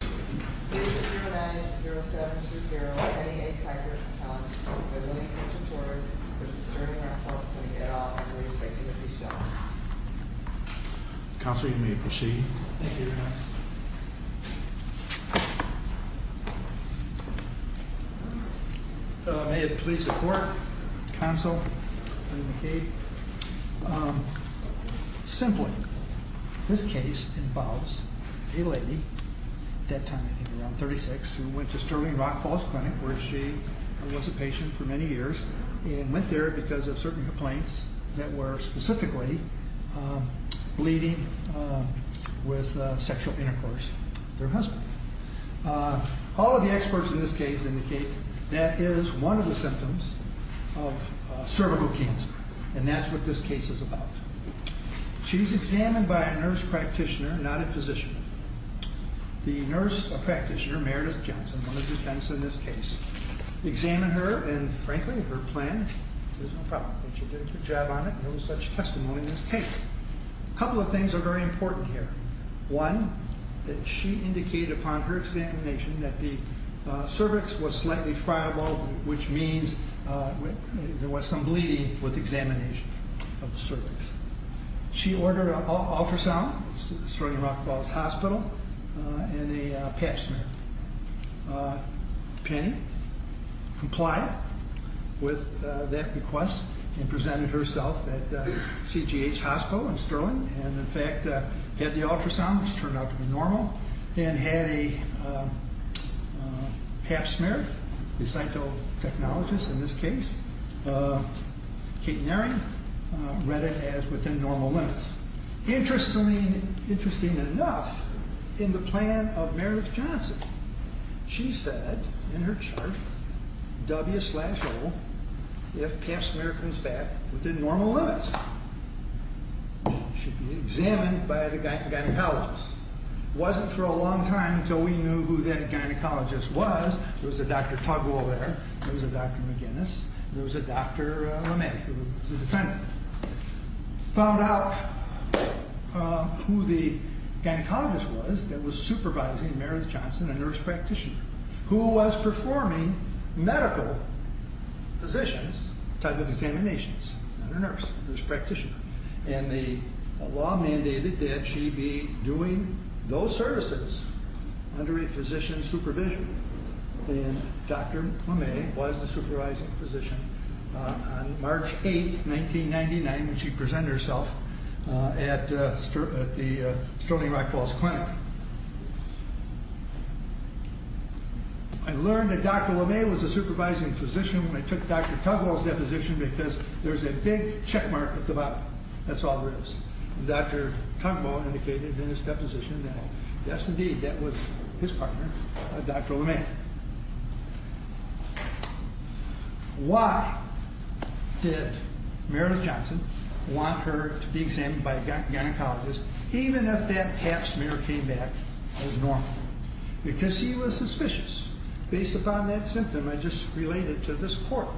Case number 319-0720, Teddy A. Karker v. Sterling Rock Falls Clinic, Ltd. Counselor, you may proceed. Thank you, Your Honor. May it please the Court, Counsel, Attorney McCabe. Simply, this case involves a lady, at that time I think around 36, who went to Sterling Rock Falls Clinic where she was a patient for many years and went there because of certain complaints that were specifically bleeding with sexual intercourse with her husband. All of the experts in this case indicate that is one of the symptoms of cervical cancer and that's what this case is about. She's examined by a nurse practitioner, not a physician. The nurse practitioner, Meredith Johnson, one of the defense in this case, examined her and frankly, her plan was no problem. She did a good job on it and there was such testimony in this case. A couple of things are very important here. One, that she indicated upon her examination that the cervix was slightly friable which means there was some bleeding with examination of the cervix. She ordered an ultrasound at Sterling Rock Falls Hospital and a pap smear. Penny complied with that request and presented herself at CGH Hospital in Sterling and in fact had the ultrasound which turned out to be normal and had a pap smear. The cytotechnologist in this case, Kate Nary, read it as within normal limits. Interestingly enough, in the plan of Meredith Johnson, she said in her chart, W slash O, if pap smear comes back within normal limits, she should be examined by the gynecologist. It wasn't for a long time until we knew who that gynecologist was. There was a Dr. Tugwell there, there was a Dr. McGinnis, there was a Dr. LeMay who was a defendant. Found out who the gynecologist was that was supervising Meredith Johnson, a nurse practitioner, who was performing medical physicians type of examinations. Not a nurse, a nurse practitioner. The law mandated that she be doing those services under a physician's supervision. Dr. LeMay was the supervising physician. On March 8, 1999, when she presented herself at the Sterling Rock Falls Clinic. I learned that Dr. LeMay was the supervising physician when I took Dr. Tugwell's deposition because there's a big checkmark at the bottom. That's all there is. Dr. Tugwell indicated in his deposition that, yes indeed, that was his partner, Dr. LeMay. Why did Meredith Johnson want her to be examined by a gynecologist even if that cap smear came back as normal? Because she was suspicious. Based upon that symptom, I just relayed it to this court,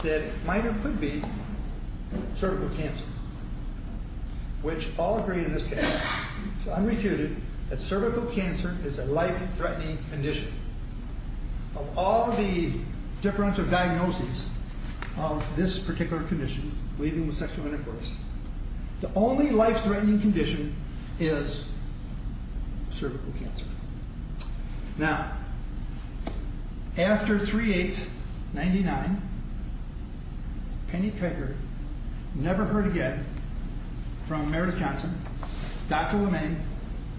that it might or could be cervical cancer, which all agree in this case. I refuted that cervical cancer is a life-threatening condition. Of all the differential diagnoses of this particular condition, leaving with sexual intercourse, the only life-threatening condition is cervical cancer. Now, after 3-8-99, Penny Pegger never heard again from Meredith Johnson, Dr. LeMay,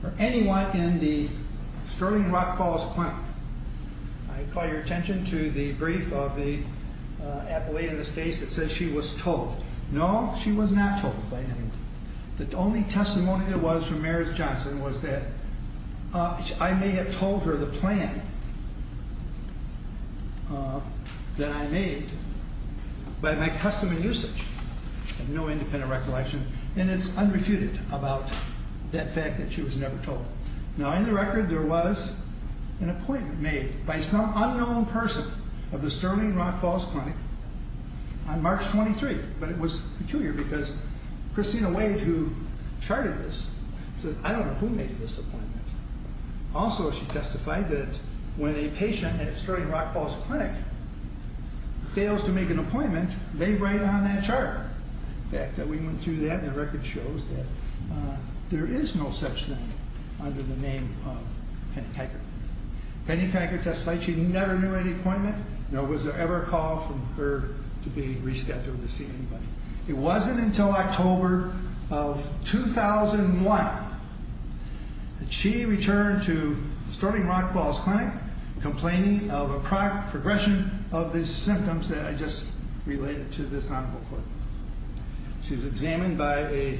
or anyone in the Sterling Rock Falls Clinic. I call your attention to the brief of the appellee in this case that says she was told. No, she was not told by anyone. The only testimony there was from Meredith Johnson was that I may have told her the plan that I made by my custom and usage. I have no independent recollection. And it's unrefuted about that fact that she was never told. Now, in the record, there was an appointment made by some unknown person of the Sterling Rock Falls Clinic on March 23, but it was peculiar because Christina Wade, who charted this, said, I don't know who made this appointment. Also, she testified that when a patient at Sterling Rock Falls Clinic fails to make an appointment, they write on that chart. The fact that we went through that in the record shows that there is no such thing under the name of Penny Pegger. Penny Pegger testified she never knew any appointment, nor was there ever a call from her to be rescheduled to see anybody. It wasn't until October of 2001 that she returned to Sterling Rock Falls Clinic complaining of a progression of the symptoms that I just related to this honorable court. She was examined by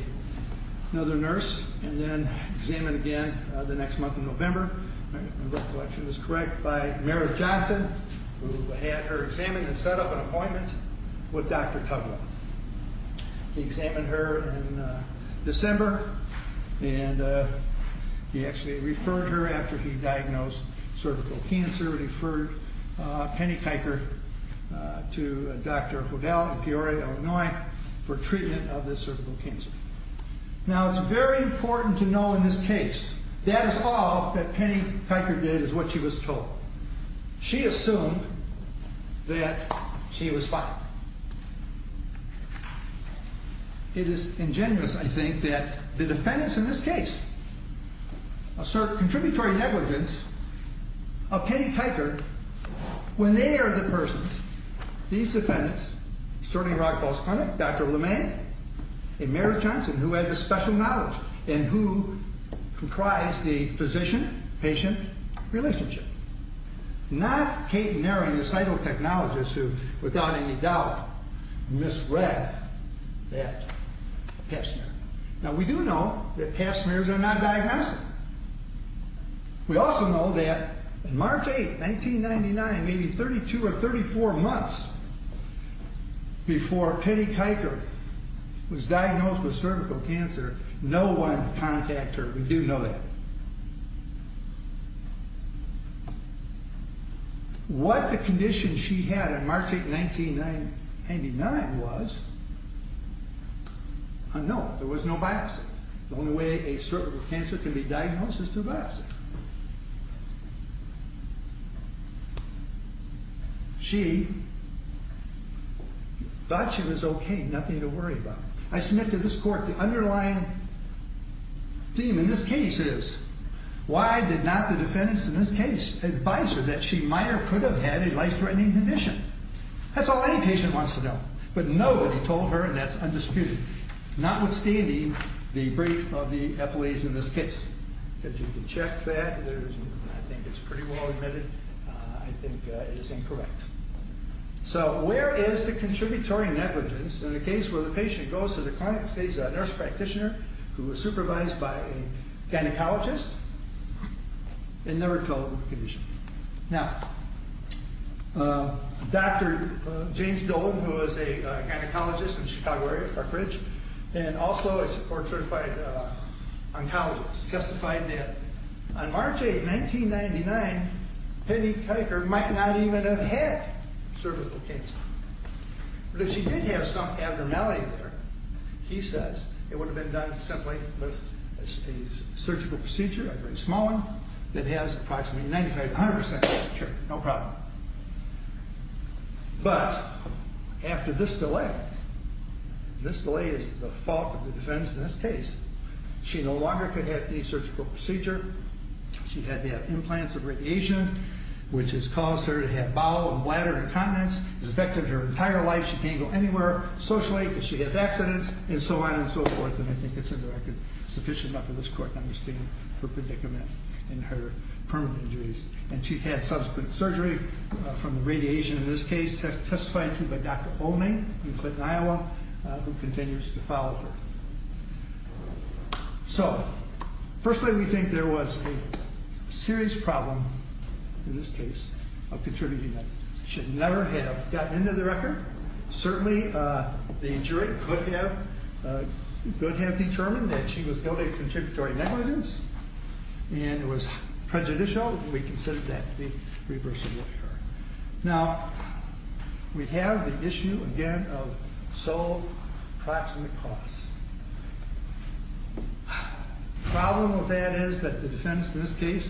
another nurse and then examined again the next month in November. My recollection is correct, by Meredith Johnson, who had her examined and set up an appointment with Dr. Tugwell. He examined her in December, and he actually referred her after he diagnosed cervical cancer, referred Penny Pegger to Dr. Hodel in Peoria, Illinois, for treatment of this cervical cancer. Now, it's very important to know in this case that is all that Penny Pegger did is what she was told. She assumed that she was fine. It is ingenuous, I think, that the defendants in this case assert contributory negligence of Penny Pegger when they are the persons. These defendants, Sterling Rock Falls Clinic, Dr. LeMay, and Meredith Johnson, who had the special knowledge and who comprised the physician-patient relationship, not Kate Nering, the cytotechnologist who, without any doubt, misread that pap smear. Now, we do know that pap smears are non-diagnostic. We also know that March 8, 1999, maybe 32 or 34 months before Penny Kiker was diagnosed with cervical cancer, no one contacted her. We do know that. What the condition she had on March 8, 1999 was unknown. There was no biopsy. The only way a cervical cancer can be diagnosed is through a biopsy. She thought she was okay, nothing to worry about. I submit to this Court the underlying theme in this case is why did not the defendants in this case advise her that she might or could have had a life-threatening condition? That's all any patient wants to know. But nobody told her, and that's undisputed, notwithstanding the brief of the employees in this case. You can check that. I think it's pretty well admitted. I think it is incorrect. So where is the contributory negligence in a case where the patient goes to the clinic, sees a nurse practitioner who is supervised by a gynecologist, and never told the condition? Now, Dr. James Dolan, who is a gynecologist in Chicago area, Park Ridge, and also a court-certified oncologist, testified that on March 8, 1999, Penny Kiker might not even have had cervical cancer. But if she did have some abnormality there, he says, it would have been done simply with a surgical procedure, a very small one, that has approximately 95-100% of the cure, no problem. But after this delay, this delay is the fault of the defense in this case. She no longer could have any surgical procedure. She had to have implants of radiation, which has caused her to have bowel and bladder incontinence. It's affected her entire life. She can't go anywhere socially because she has accidents and so on and so forth. And I think it's in the record sufficient enough for this court to understand her predicament and her permanent injuries. And she's had subsequent surgery from the radiation in this case, testified to by Dr. Oming in Clinton, Iowa, who continues to follow her. So, firstly, we think there was a serious problem in this case of contributing negatives. She should never have gotten into the record. Certainly, the injury could have determined that she was guilty of contributory negligence and it was prejudicial. We consider that to be reversible here. Now, we have the issue, again, of sole proximate cause. The problem with that is that the defense in this case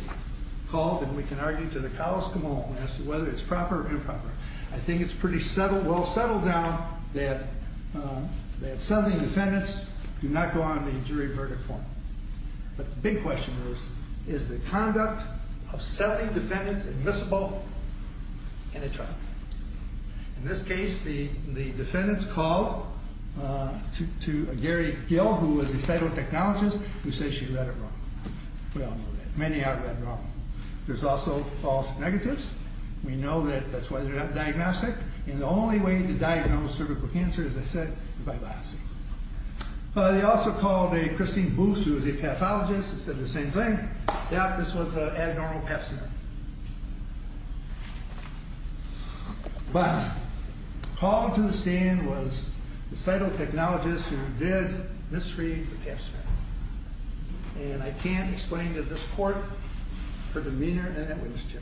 called, and we can argue to the colossal moment as to whether it's proper or improper. I think it's pretty well settled now that Southern defendants do not go on the jury verdict form. But the big question is, is the conduct of Southern defendants admissible in a trial? In this case, the defendants called to Gary Gill, who was a cytotechnologist, who says she read it wrong. We all know that. Many have read wrong. There's also false negatives. We know that that's why they're not diagnostic. And the only way to diagnose cervical cancer, as I said, is by biopsy. They also called Christine Booth, who was a pathologist, who said the same thing, that this was an abnormal pap smear. But called to the stand was the cytotechnologist who did misread the pap smear. And I can't explain to this court her demeanor in that witness chair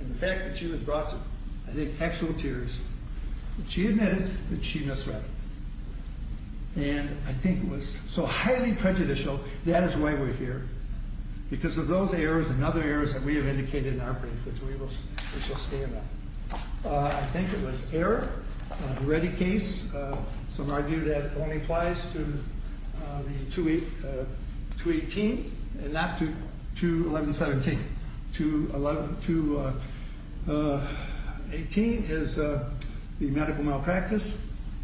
and the fact that she was brought to, I think, actual tears. She admitted that she misread it. And I think it was so highly prejudicial. That is why we're here. Because of those errors and other errors that we have indicated in our brief, which we shall stand on. I think it was error. A ready case. Some argue that only applies to 218 and not to 211-17. 218 is the medical malpractice.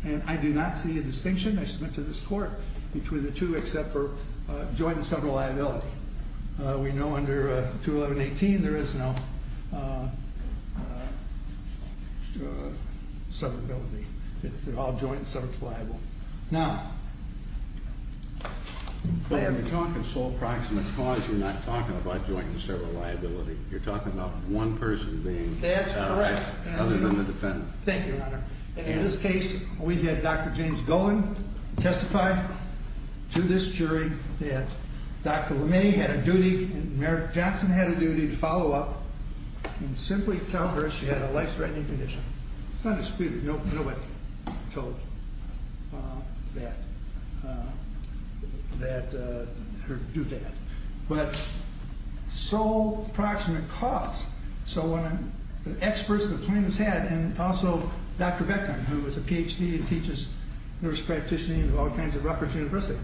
And I do not see a distinction, I submit to this court, between the two except for joint and severed liability. We know under 211-18 there is no severability. They're all joint and severed liable. Now, they have to be. But when you're talking sole proximate cause, you're not talking about joint and severed liability. You're talking about one person being. That's correct. Other than the defendant. Thank you, Your Honor. In this case, we had Dr. James Golan testify to this jury that Dr. LeMay had a duty and Mary Johnson had a duty to follow up and simply tell her she had a life-threatening condition. It's undisputed. Nobody told her to do that. But sole proximate cause. So when the experts, the plaintiffs had, and also Dr. Beckman, who is a Ph.D. and teaches nurse practitioning at Rutgers University,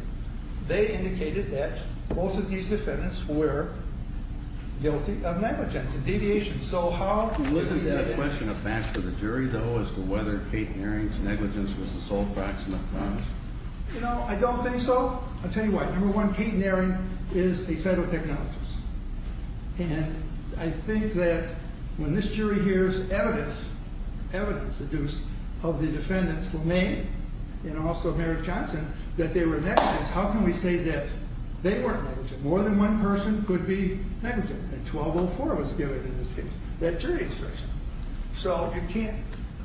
they indicated that most of these defendants were guilty of negligence and deviation. Wasn't that a question of fact for the jury, though, as to whether Kate Naring's negligence was the sole proximate cause? You know, I don't think so. I'll tell you why. Number one, Kate Naring is a cytotechnologist. And I think that when this jury hears evidence, evidence, the deuce of the defendants LeMay and also Mary Johnson, that they were negligent, how can we say that they weren't negligent? More than one person could be negligent. And 1204 was given in this case, that jury instruction. So you can't.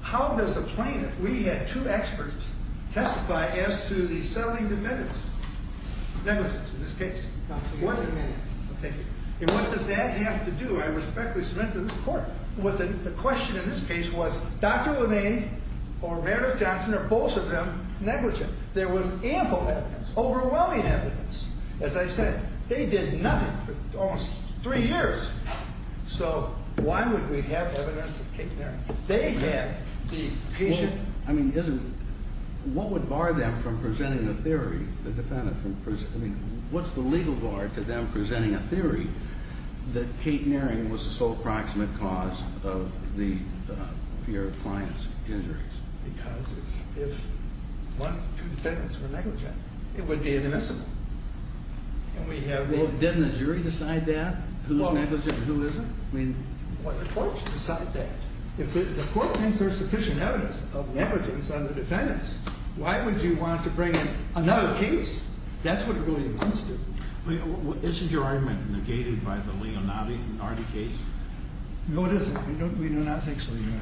How does a plaintiff, we had two experts testify as to the selling defendants negligence in this case? And what does that have to do, I respectfully submit to this court, with the question in this case was Dr. LeMay or Mary Johnson, or both of them, negligent? There was ample evidence, overwhelming evidence. As I said, they did nothing for almost three years. So why would we have evidence of Kate Naring? They had the patient. I mean, isn't, what would bar them from presenting a theory, the defendant from presenting, I mean, what's the legal bar to them presenting a theory that Kate Naring was the sole proximate cause of the pair of clients' injuries? Because if one or two defendants were negligent, it would be inadmissible. And we have the... Well, didn't the jury decide that, who's negligent and who isn't? I mean... Well, the court should decide that. If the court thinks there's sufficient evidence of negligence on the defendants, why would you want to bring in another case? That's what it really comes to. Isn't your argument negated by the Leonardi case? No, it isn't. We do not think so, Your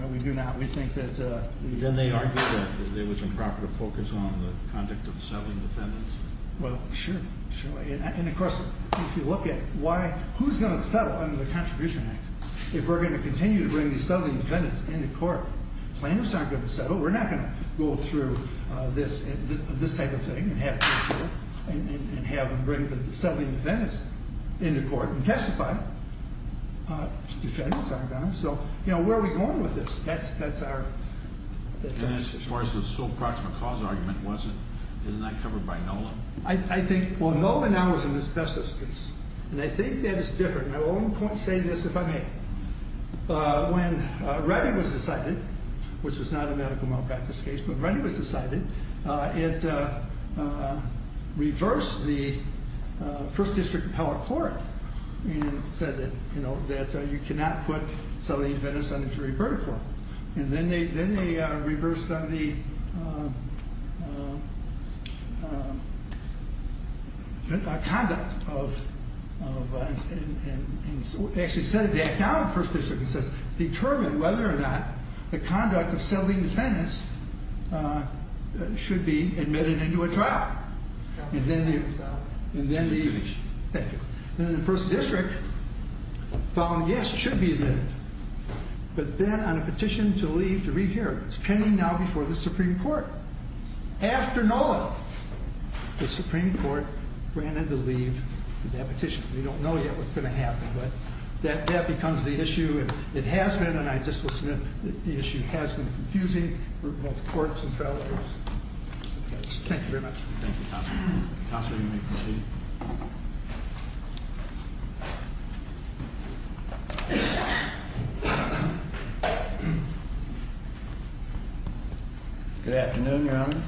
Honor. We do not. We think that... Then they argued that there was improper focus on the conduct of the settling defendants. Well, sure, sure. And, of course, if you look at why, who's going to settle under the Contribution Act if we're going to continue to bring these settling defendants into court? The plaintiffs aren't going to settle. We're not going to go through this type of thing and have them bring the settling defendants into court and testify. Defendants aren't going to. So, you know, where are we going with this? That's our... And as far as the sole proximate cause argument, isn't that covered by NOLA? I think... Well, NOLA now is in the specialist case. And I think that it's different. And I will at one point say this, if I may. When Reddy was decided, which was not a medical malpractice case, but Reddy was decided, it reversed the first district appellate court and said that, you know, that you cannot put settling defendants under jury verdict for them. And then they reversed on the... conduct of... Actually, it said it back down in the first district. It says, determine whether or not the conduct of settling defendants should be admitted into a trial. And then the... Thank you. And then the first district found, yes, it should be admitted. But then on a petition to leave to rehear it. It's pending now before the Supreme Court. After NOLA, the Supreme Court granted the leave to that petition. We don't know yet what's going to happen. But that becomes the issue. It has been, and I just will submit, the issue has been confusing for both courts and trial lawyers. Thank you very much. Thank you, Counselor. Counselor, you may continue. Good afternoon, Your Honor.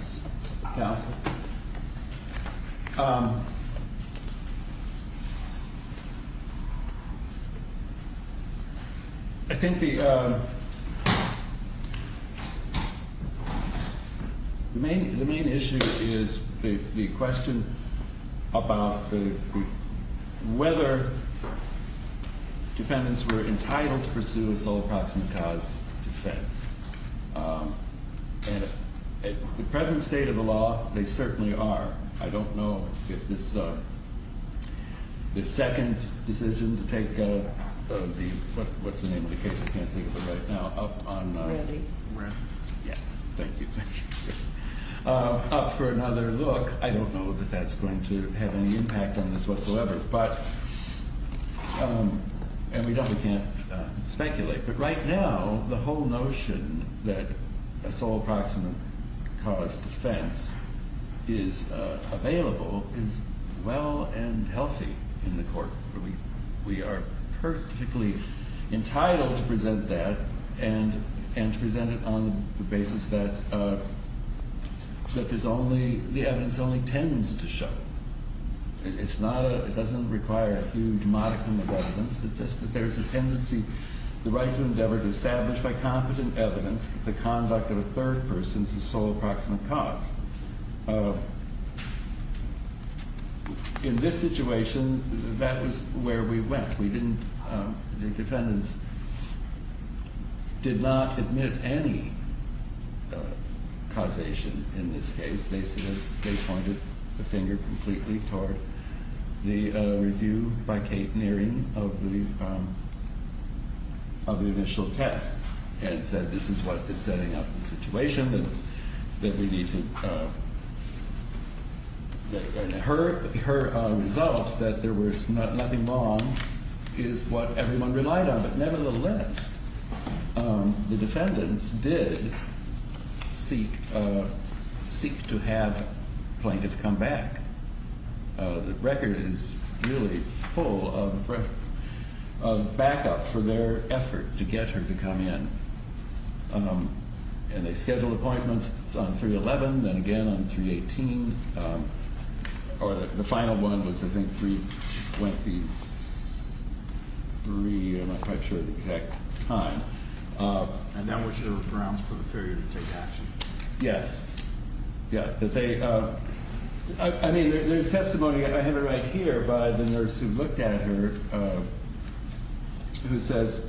Counsel. I think the... The main issue is the question about the... whether defendants were entitled to pursue a sole proximate cause defense. And at the present state of the law, they certainly are. I don't know if this... The second decision to take the... What's the name of the case? I can't think of it right now. Up on... Randy. Yes. Thank you. Up for another look. I don't know that that's going to have any impact on this whatsoever. But... And we definitely can't speculate. But right now, the whole notion that a sole proximate cause defense is available is well and healthy in the court. We are perfectly entitled to present that and to present it on the basis that there's only... The evidence only tends to show. It's not a... It doesn't require a huge modicum of evidence. It's just that there's a tendency... The right to endeavor to establish by competent evidence the conduct of a third person as the sole proximate cause. In this situation, that was where we went. We didn't... The defendants did not admit any causation in this case. They said... They pointed the finger completely toward the review by Kate Nearing of the initial tests and said, this is what is setting up the situation that we need to... Her result, that there was nothing wrong, is what everyone relied on. But nevertheless, the defendants did seek to have Plaintiff come back. The record is really full of backup for their effort to get her to come in. They scheduled appointments on 3-11, then again on 3-18. The final one was, I think, 3-23. I'm not quite sure of the exact time. And that was your grounds for the failure to take action? Yes. Yeah. I mean, there's testimony. I have it right here by the nurse who looked at her who says,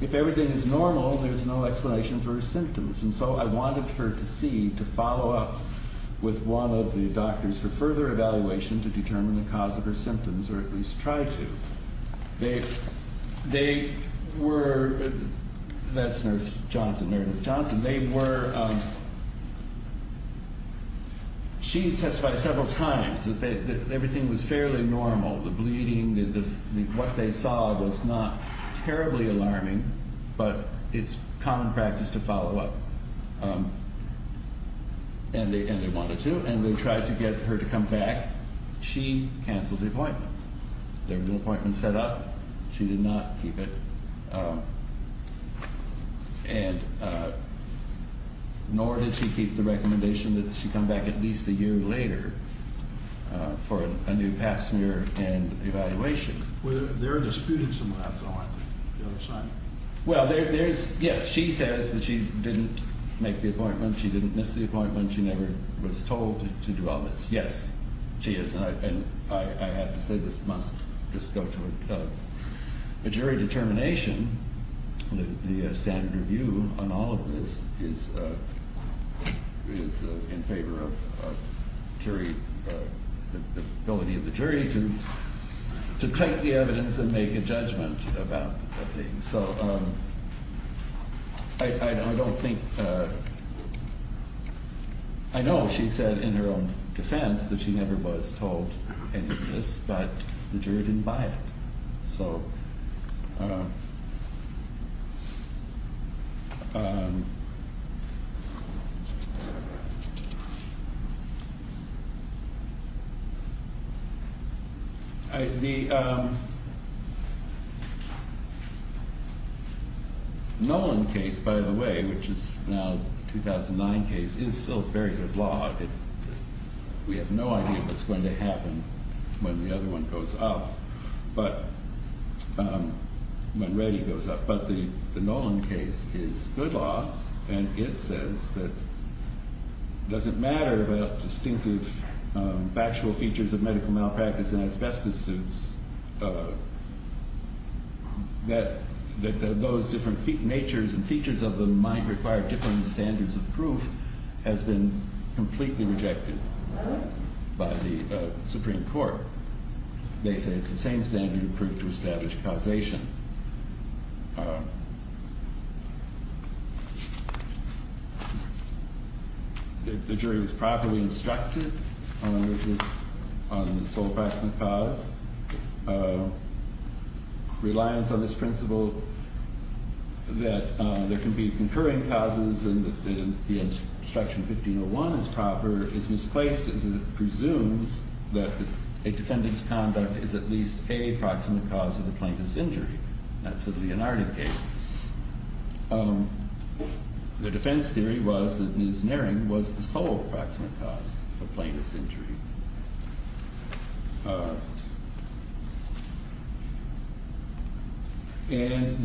if everything is normal, there's no explanation for her symptoms. And so I wanted her to see, to follow up with one of the doctors for further evaluation to determine the cause of her symptoms, or at least try to. They were... That's Nurse Johnson, Mary Nurse Johnson. They were... She testified several times that everything was fairly normal. The bleeding, what they saw was not terribly alarming, but it's common practice to follow up. And they wanted to, and they tried to get her to come back. She canceled the appointment. There were no appointments set up. She did not keep it. Nor did she keep the recommendation that she come back at least a year later. For a new pap smear and evaluation. They're disputing some of that, though, aren't they? The other side. Well, there's... Yes, she says that she didn't make the appointment. She didn't miss the appointment. She never was told to do all this. Yes, she is. And I have to say, this must just go to a jury determination. The standard review on all of this is in favor of jury and the ability of the jury to take the evidence and make a judgment about the thing. So, I don't think... I know she said in her own defense that she never was told any of this, but the jury didn't buy it. So... The... Nolan case, by the way, which is now a 2009 case, is still very good law. We have no idea what's going to happen when the other one goes up. But... When Reddy goes up. But the Nolan case is good law, and it says that it doesn't matter about distinctive factual features of medical malpractice and asbestos suits, that those different features of them might require different standards of proof has been completely rejected by the Supreme Court. They say it's the same standard of proof to establish causation. The jury was properly instructed on the sole proximate cause. Reliance on this principle that there can be concurring causes and the instruction 1501 is proper is misplaced as it presumes that a defendant's conduct is at least a proximate cause of the plaintiff's injury. That's a Leonardo case. The defense theory was that Ms. Naring was the sole proximate cause of the plaintiff's injury. And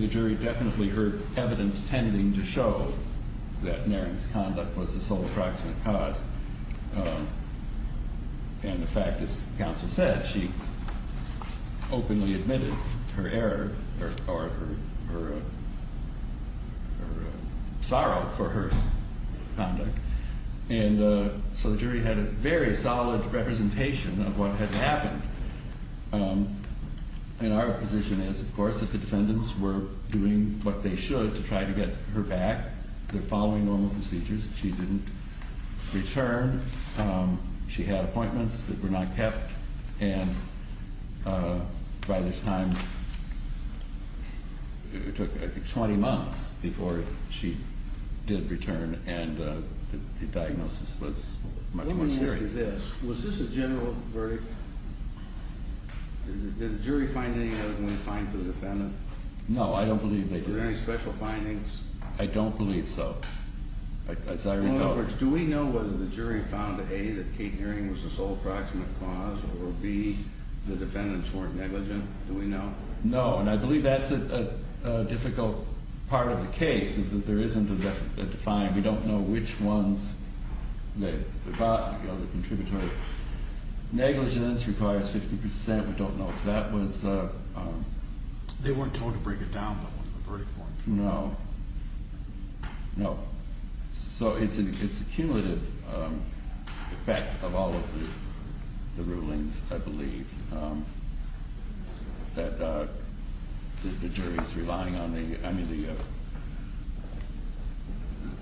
the jury definitely heard evidence tending to show that Naring's conduct was the sole proximate cause. And the fact is, as counsel said, that she openly admitted her error or her sorrow for her conduct. And so the jury had a very solid representation of what had happened. And our position is, of course, that the defendants were doing what they should to try to get her back. They're following normal procedures. She didn't return. She had appointments that were not kept. And by this time, it took, I think, 20 months before she did return and the diagnosis was much more serious. Let me ask you this. Was this a general verdict? Did the jury find anything that was going to be fine for the defendant? No, I don't believe they did. Were there any special findings? I don't believe so. In other words, do we know whether the jury found, A, that Kate Naring was the sole proximate cause or, B, the defendants weren't negligent? Do we know? No. And I believe that's a difficult part of the case is that there isn't a defined. We don't know which ones they got, the other contributory. Negligence requires 50%. We don't know if that was... They weren't told to break it down, though, in the verdict form. No. No. So it's a cumulative effect of all of the rulings, I believe, that the jury's relying on the...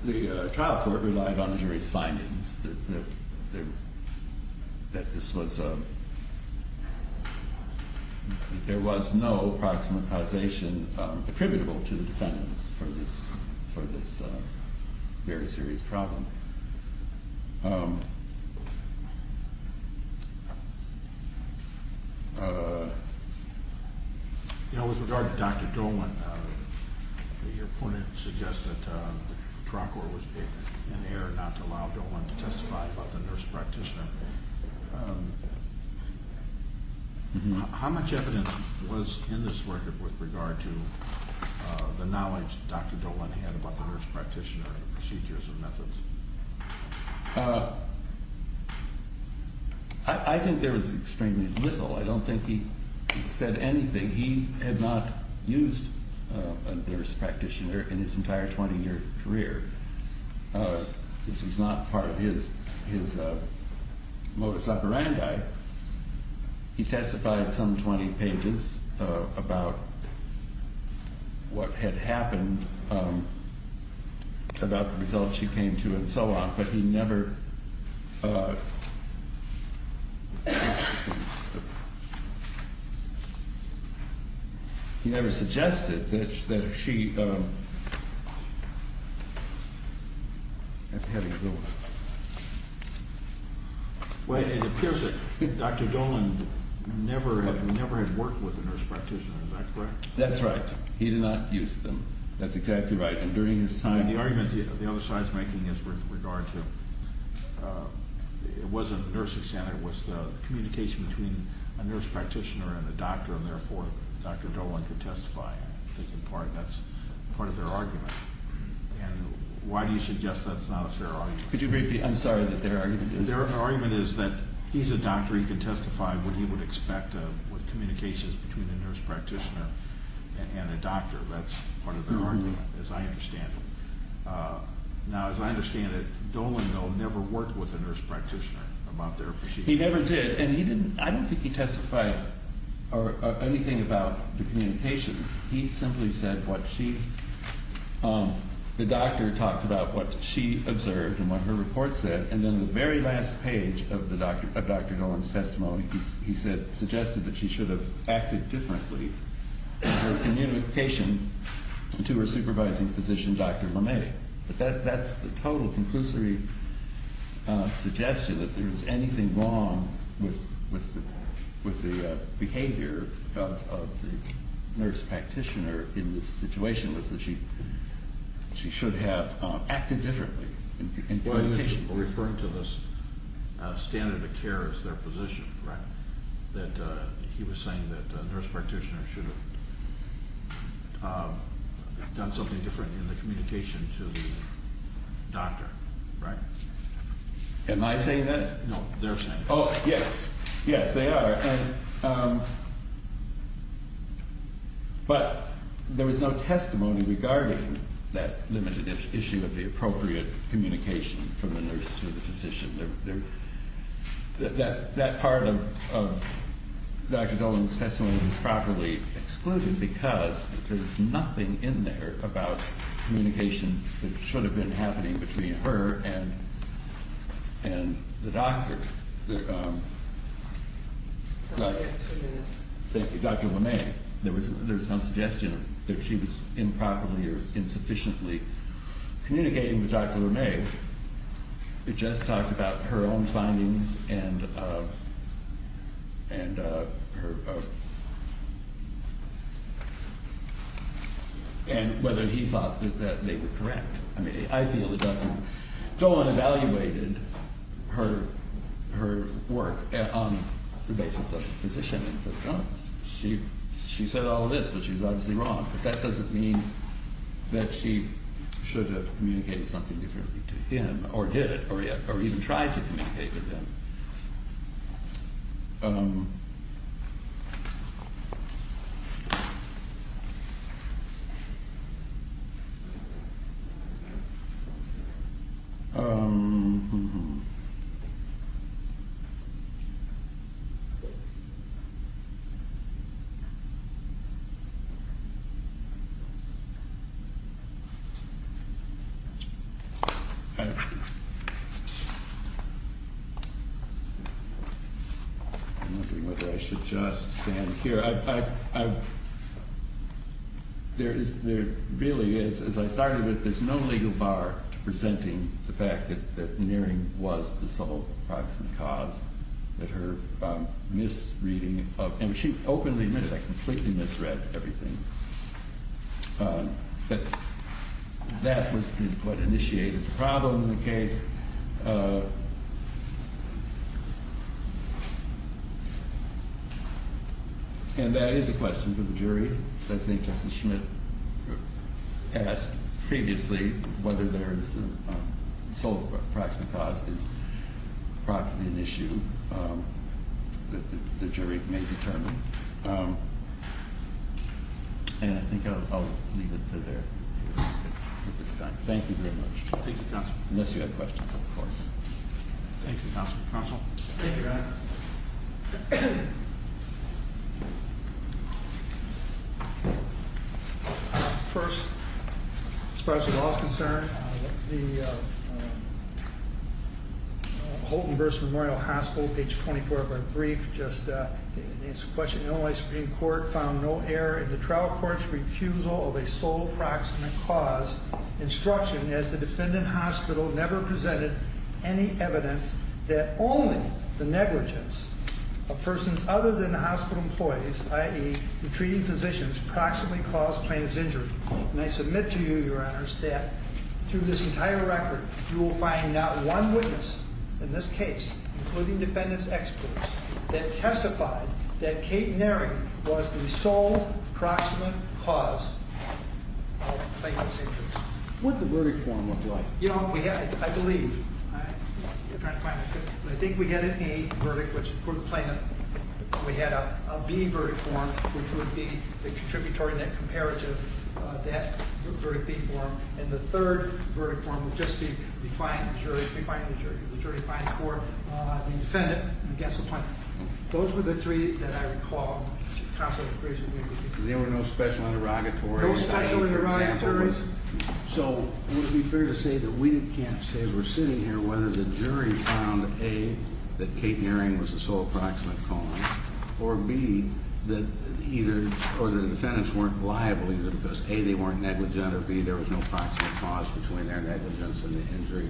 The trial court relied on the jury's findings that this was a... There was no proximate causation attributable to the defendants for this very serious problem. You know, with regard to Dr. Dolan, your point suggests that the trial court was in error not to allow Dolan to testify about the nurse practitioner. How much evidence was in this record with regard to the knowledge Dr. Dolan had about the nurse practitioner and the procedures and methods? I think there was extremely little. I don't think he said anything. He had not used a nurse practitioner in his entire 20-year career. This was not part of his modus operandi. He testified some 20 pages about what had happened, about the results she came to and so on, but he never... He never suggested that she... Well, it appears that Dr. Dolan never had worked with a nurse practitioner. Is that correct? That's right. He did not use them. That's exactly right. And during his time... The argument the other side is making is with regard to... It wasn't nursing standard. It was the communication between a nurse practitioner and a doctor, and therefore Dr. Dolan could testify. I think that's part of their argument. And why do you suggest that's not a fair argument? Could you repeat? I'm sorry, but their argument is... Their argument is that he's a doctor. He can testify what he would expect with communications between a nurse practitioner and a doctor. That's part of their argument, as I understand it. Now, as I understand it, Dolan, though, never worked with a nurse practitioner about their... He never did, and he didn't... I don't think he testified or anything about the communications. He simply said what she... The doctor talked about what she observed and what her report said, and then the very last page of Dr. Dolan's testimony, he suggested that she should have acted differently in her communication to her supervising physician, Dr. Lemay. But that's the total conclusory suggestion, that there was anything wrong with the behavior of the nurse practitioner in this situation, was that she should have acted differently in communication. You're referring to this standard of care as their position, right? That he was saying that the nurse practitioner should have done something different in the communication to the doctor, right? Am I saying that? No, they're saying that. Oh, yes. Yes, they are. But there was no testimony regarding that limited issue of the appropriate communication from the nurse to the physician. That part of Dr. Dolan's testimony was properly excluded because there was nothing in there about communication that should have been happening between her and the doctor. Dr. Lemay, there was no suggestion that she was improperly or insufficiently communicating with Dr. Lemay. It just talked about her own findings and whether he thought that they were correct. I mean, I feel that Dr. Dolan evaluated her work on the basis of the physician and said, oh, she said all of this, but she was obviously wrong. But that doesn't mean that she should have communicated something differently to him or did, or even tried to communicate with him. I'm wondering whether I should just stand here. There really is, as I started with, there's no legal bar to presenting the fact that nearing was the sole approximate cause that her misreading of, and she openly admitted that completely misread everything. But that was what initiated the problem in the case. And that is a question for the jury. I think Justice Schmidt asked previously whether there is a sole approximate cause is probably an issue that the jury may determine. And I think I'll leave it there at this time. Thank you very much. Thank you, Counselor. Unless you have questions, of course. Thank you, Counselor. Counselor? Thank you, Your Honor. First, as far as the law is concerned, the Houghton versus Memorial Hospital, page 24 of our brief, just an answer to a question in Illinois Supreme Court, found no error in the trial court's refusal of a sole approximate cause instruction as the defendant hospital never presented any evidence that only the negligence of persons other than the hospital employees, i.e. retreating physicians, proximately caused plaintiff's injury. And I submit to you, Your Honors, that through this entire record, you will find not one witness in this case, including defendant's experts, that testified that Kate Nary was the sole proximate cause of plaintiff's injuries. What did the verdict form look like? You know, I believe, I think we had an A verdict for the plaintiff. We had a B verdict form, which would be the contributory net comparative, that verdict B form. And the third verdict form would just be we find the jury, we find the jury. The jury finds for the defendant against the plaintiff. Those were the three that I recall constantly increasing. There were no special interrogatories. No special interrogatories. So it would be fair to say that we can't say as we're sitting here whether the jury found A, that Kate Nary was the sole proximate cause, or B, that either, or the defendants weren't liable either because A, they weren't negligent, or B, there was no proximate cause between their negligence and the injury.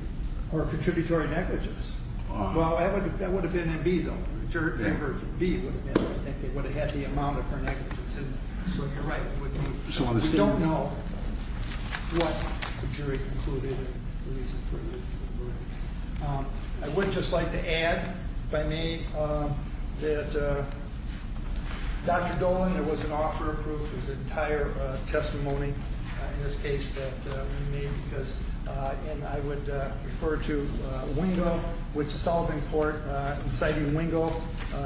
Or contributory negligence. Well, that would have been in B, though. That verdict B would have been. I think they would have had the amount of her negligence. So you're right, it would be. We don't know what the jury concluded and the reason for the verdict. I would just like to add, if I may, that Dr. Dolan, there was an offer approved for his entire testimony in this case that we made because, and I would refer to Wingle, which the Solving Court, inciting Wingle,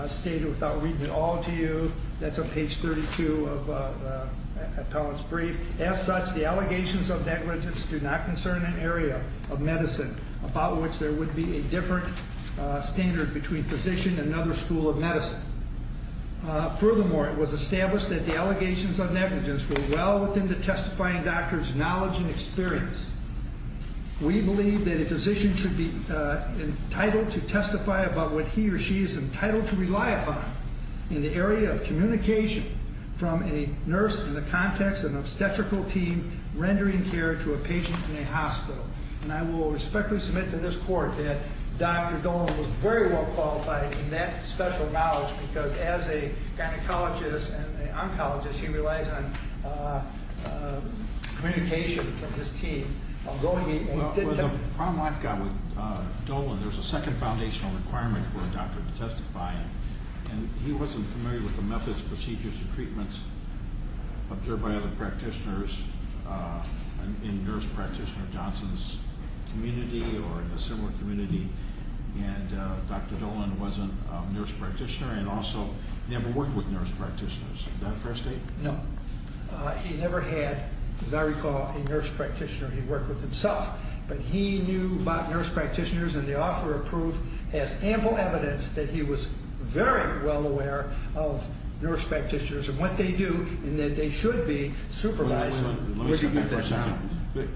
stated without reading it all to you, that's on page 32 of Appellant's brief, as such, the allegations of negligence do not concern an area of medicine about which there would be a different standard between physician and another school of medicine. Furthermore, it was established that the allegations of negligence were well within the testifying doctor's knowledge and experience. We believe that a physician should be entitled to testify about what he or she is entitled to rely upon in the area of communication from a nurse in the context of an obstetrical team rendering care to a patient in a hospital. And I will respectfully submit to this Court that Dr. Dolan was very well qualified in that special knowledge because as a gynecologist and oncologist, he relies on communication from his team, although he didn't have... The problem I've got with Dolan, there's a second foundational requirement for a doctor to testify, and he wasn't familiar with the methods, procedures, and treatments observed by other practitioners in nurse practitioner Johnson's community or in a similar community, and Dr. Dolan wasn't a nurse practitioner and also never worked with nurse practitioners. Is that fair to say? No. He never had, as I recall, a nurse practitioner he worked with himself, but he knew about nurse practitioners and the offer of proof has ample evidence that he was very well aware of nurse practitioners and what they do and that they should be supervising... Let me step back for a second.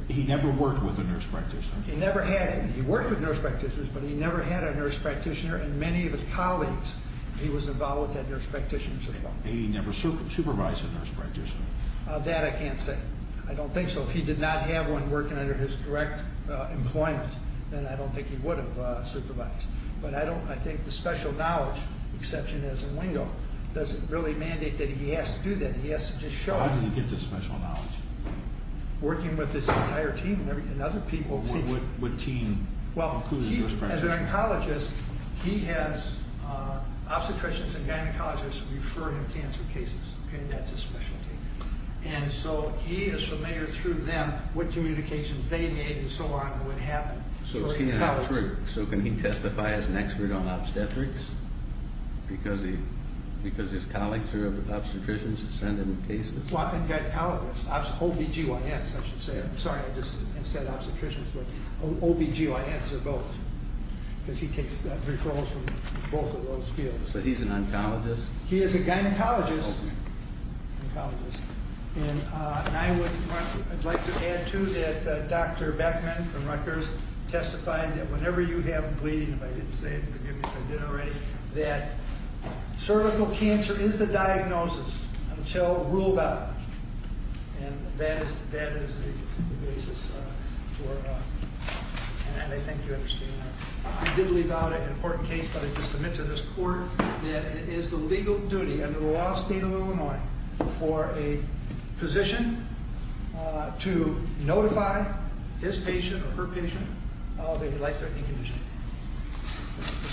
He never worked with a nurse practitioner? He never had... He worked with nurse practitioners, but he never had a nurse practitioner, and many of his colleagues he was involved with had nurse practitioners as well. And he never supervised a nurse practitioner? That I can't say. I don't think so. If he did not have one working under his direct employment, then I don't think he would have supervised. But I think the special knowledge exception as in lingo doesn't really mandate that he has to do that. He has to just show up... How did he get this special knowledge? Working with his entire team and other people... What team? As an oncologist, he has obstetricians and gynecologists refer him to answer cases. That's his specialty. And so he is familiar through them what communications they made and so on and what happened. So is he an obstetrician? So can he testify as an expert on obstetrics? Because his colleagues are obstetricians and send him cases? Well, I've got colleagues. OBGYNs, I should say. Sorry, I just said obstetricians, but OBGYNs are both. Because he takes referrals from both of those fields. So he's an oncologist? He is a gynecologist. And I would like to add too that Dr. Beckman from Rutgers testified that whenever you have bleeding, if I didn't say it, forgive me if I did already, that cervical cancer is the diagnosis until ruled out. And that is the basis for... And I think you understand that. I did leave out an important case, but I submit to this court that it is the legal duty under the law of the state of Illinois for a physician to notify his patient or her patient of a life-threatening condition.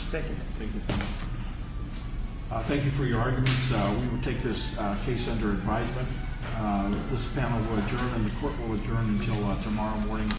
Thank you. Thank you. Thank you for your arguments. We will take this case under advisement. This panel will adjourn and the court will adjourn until tomorrow morning.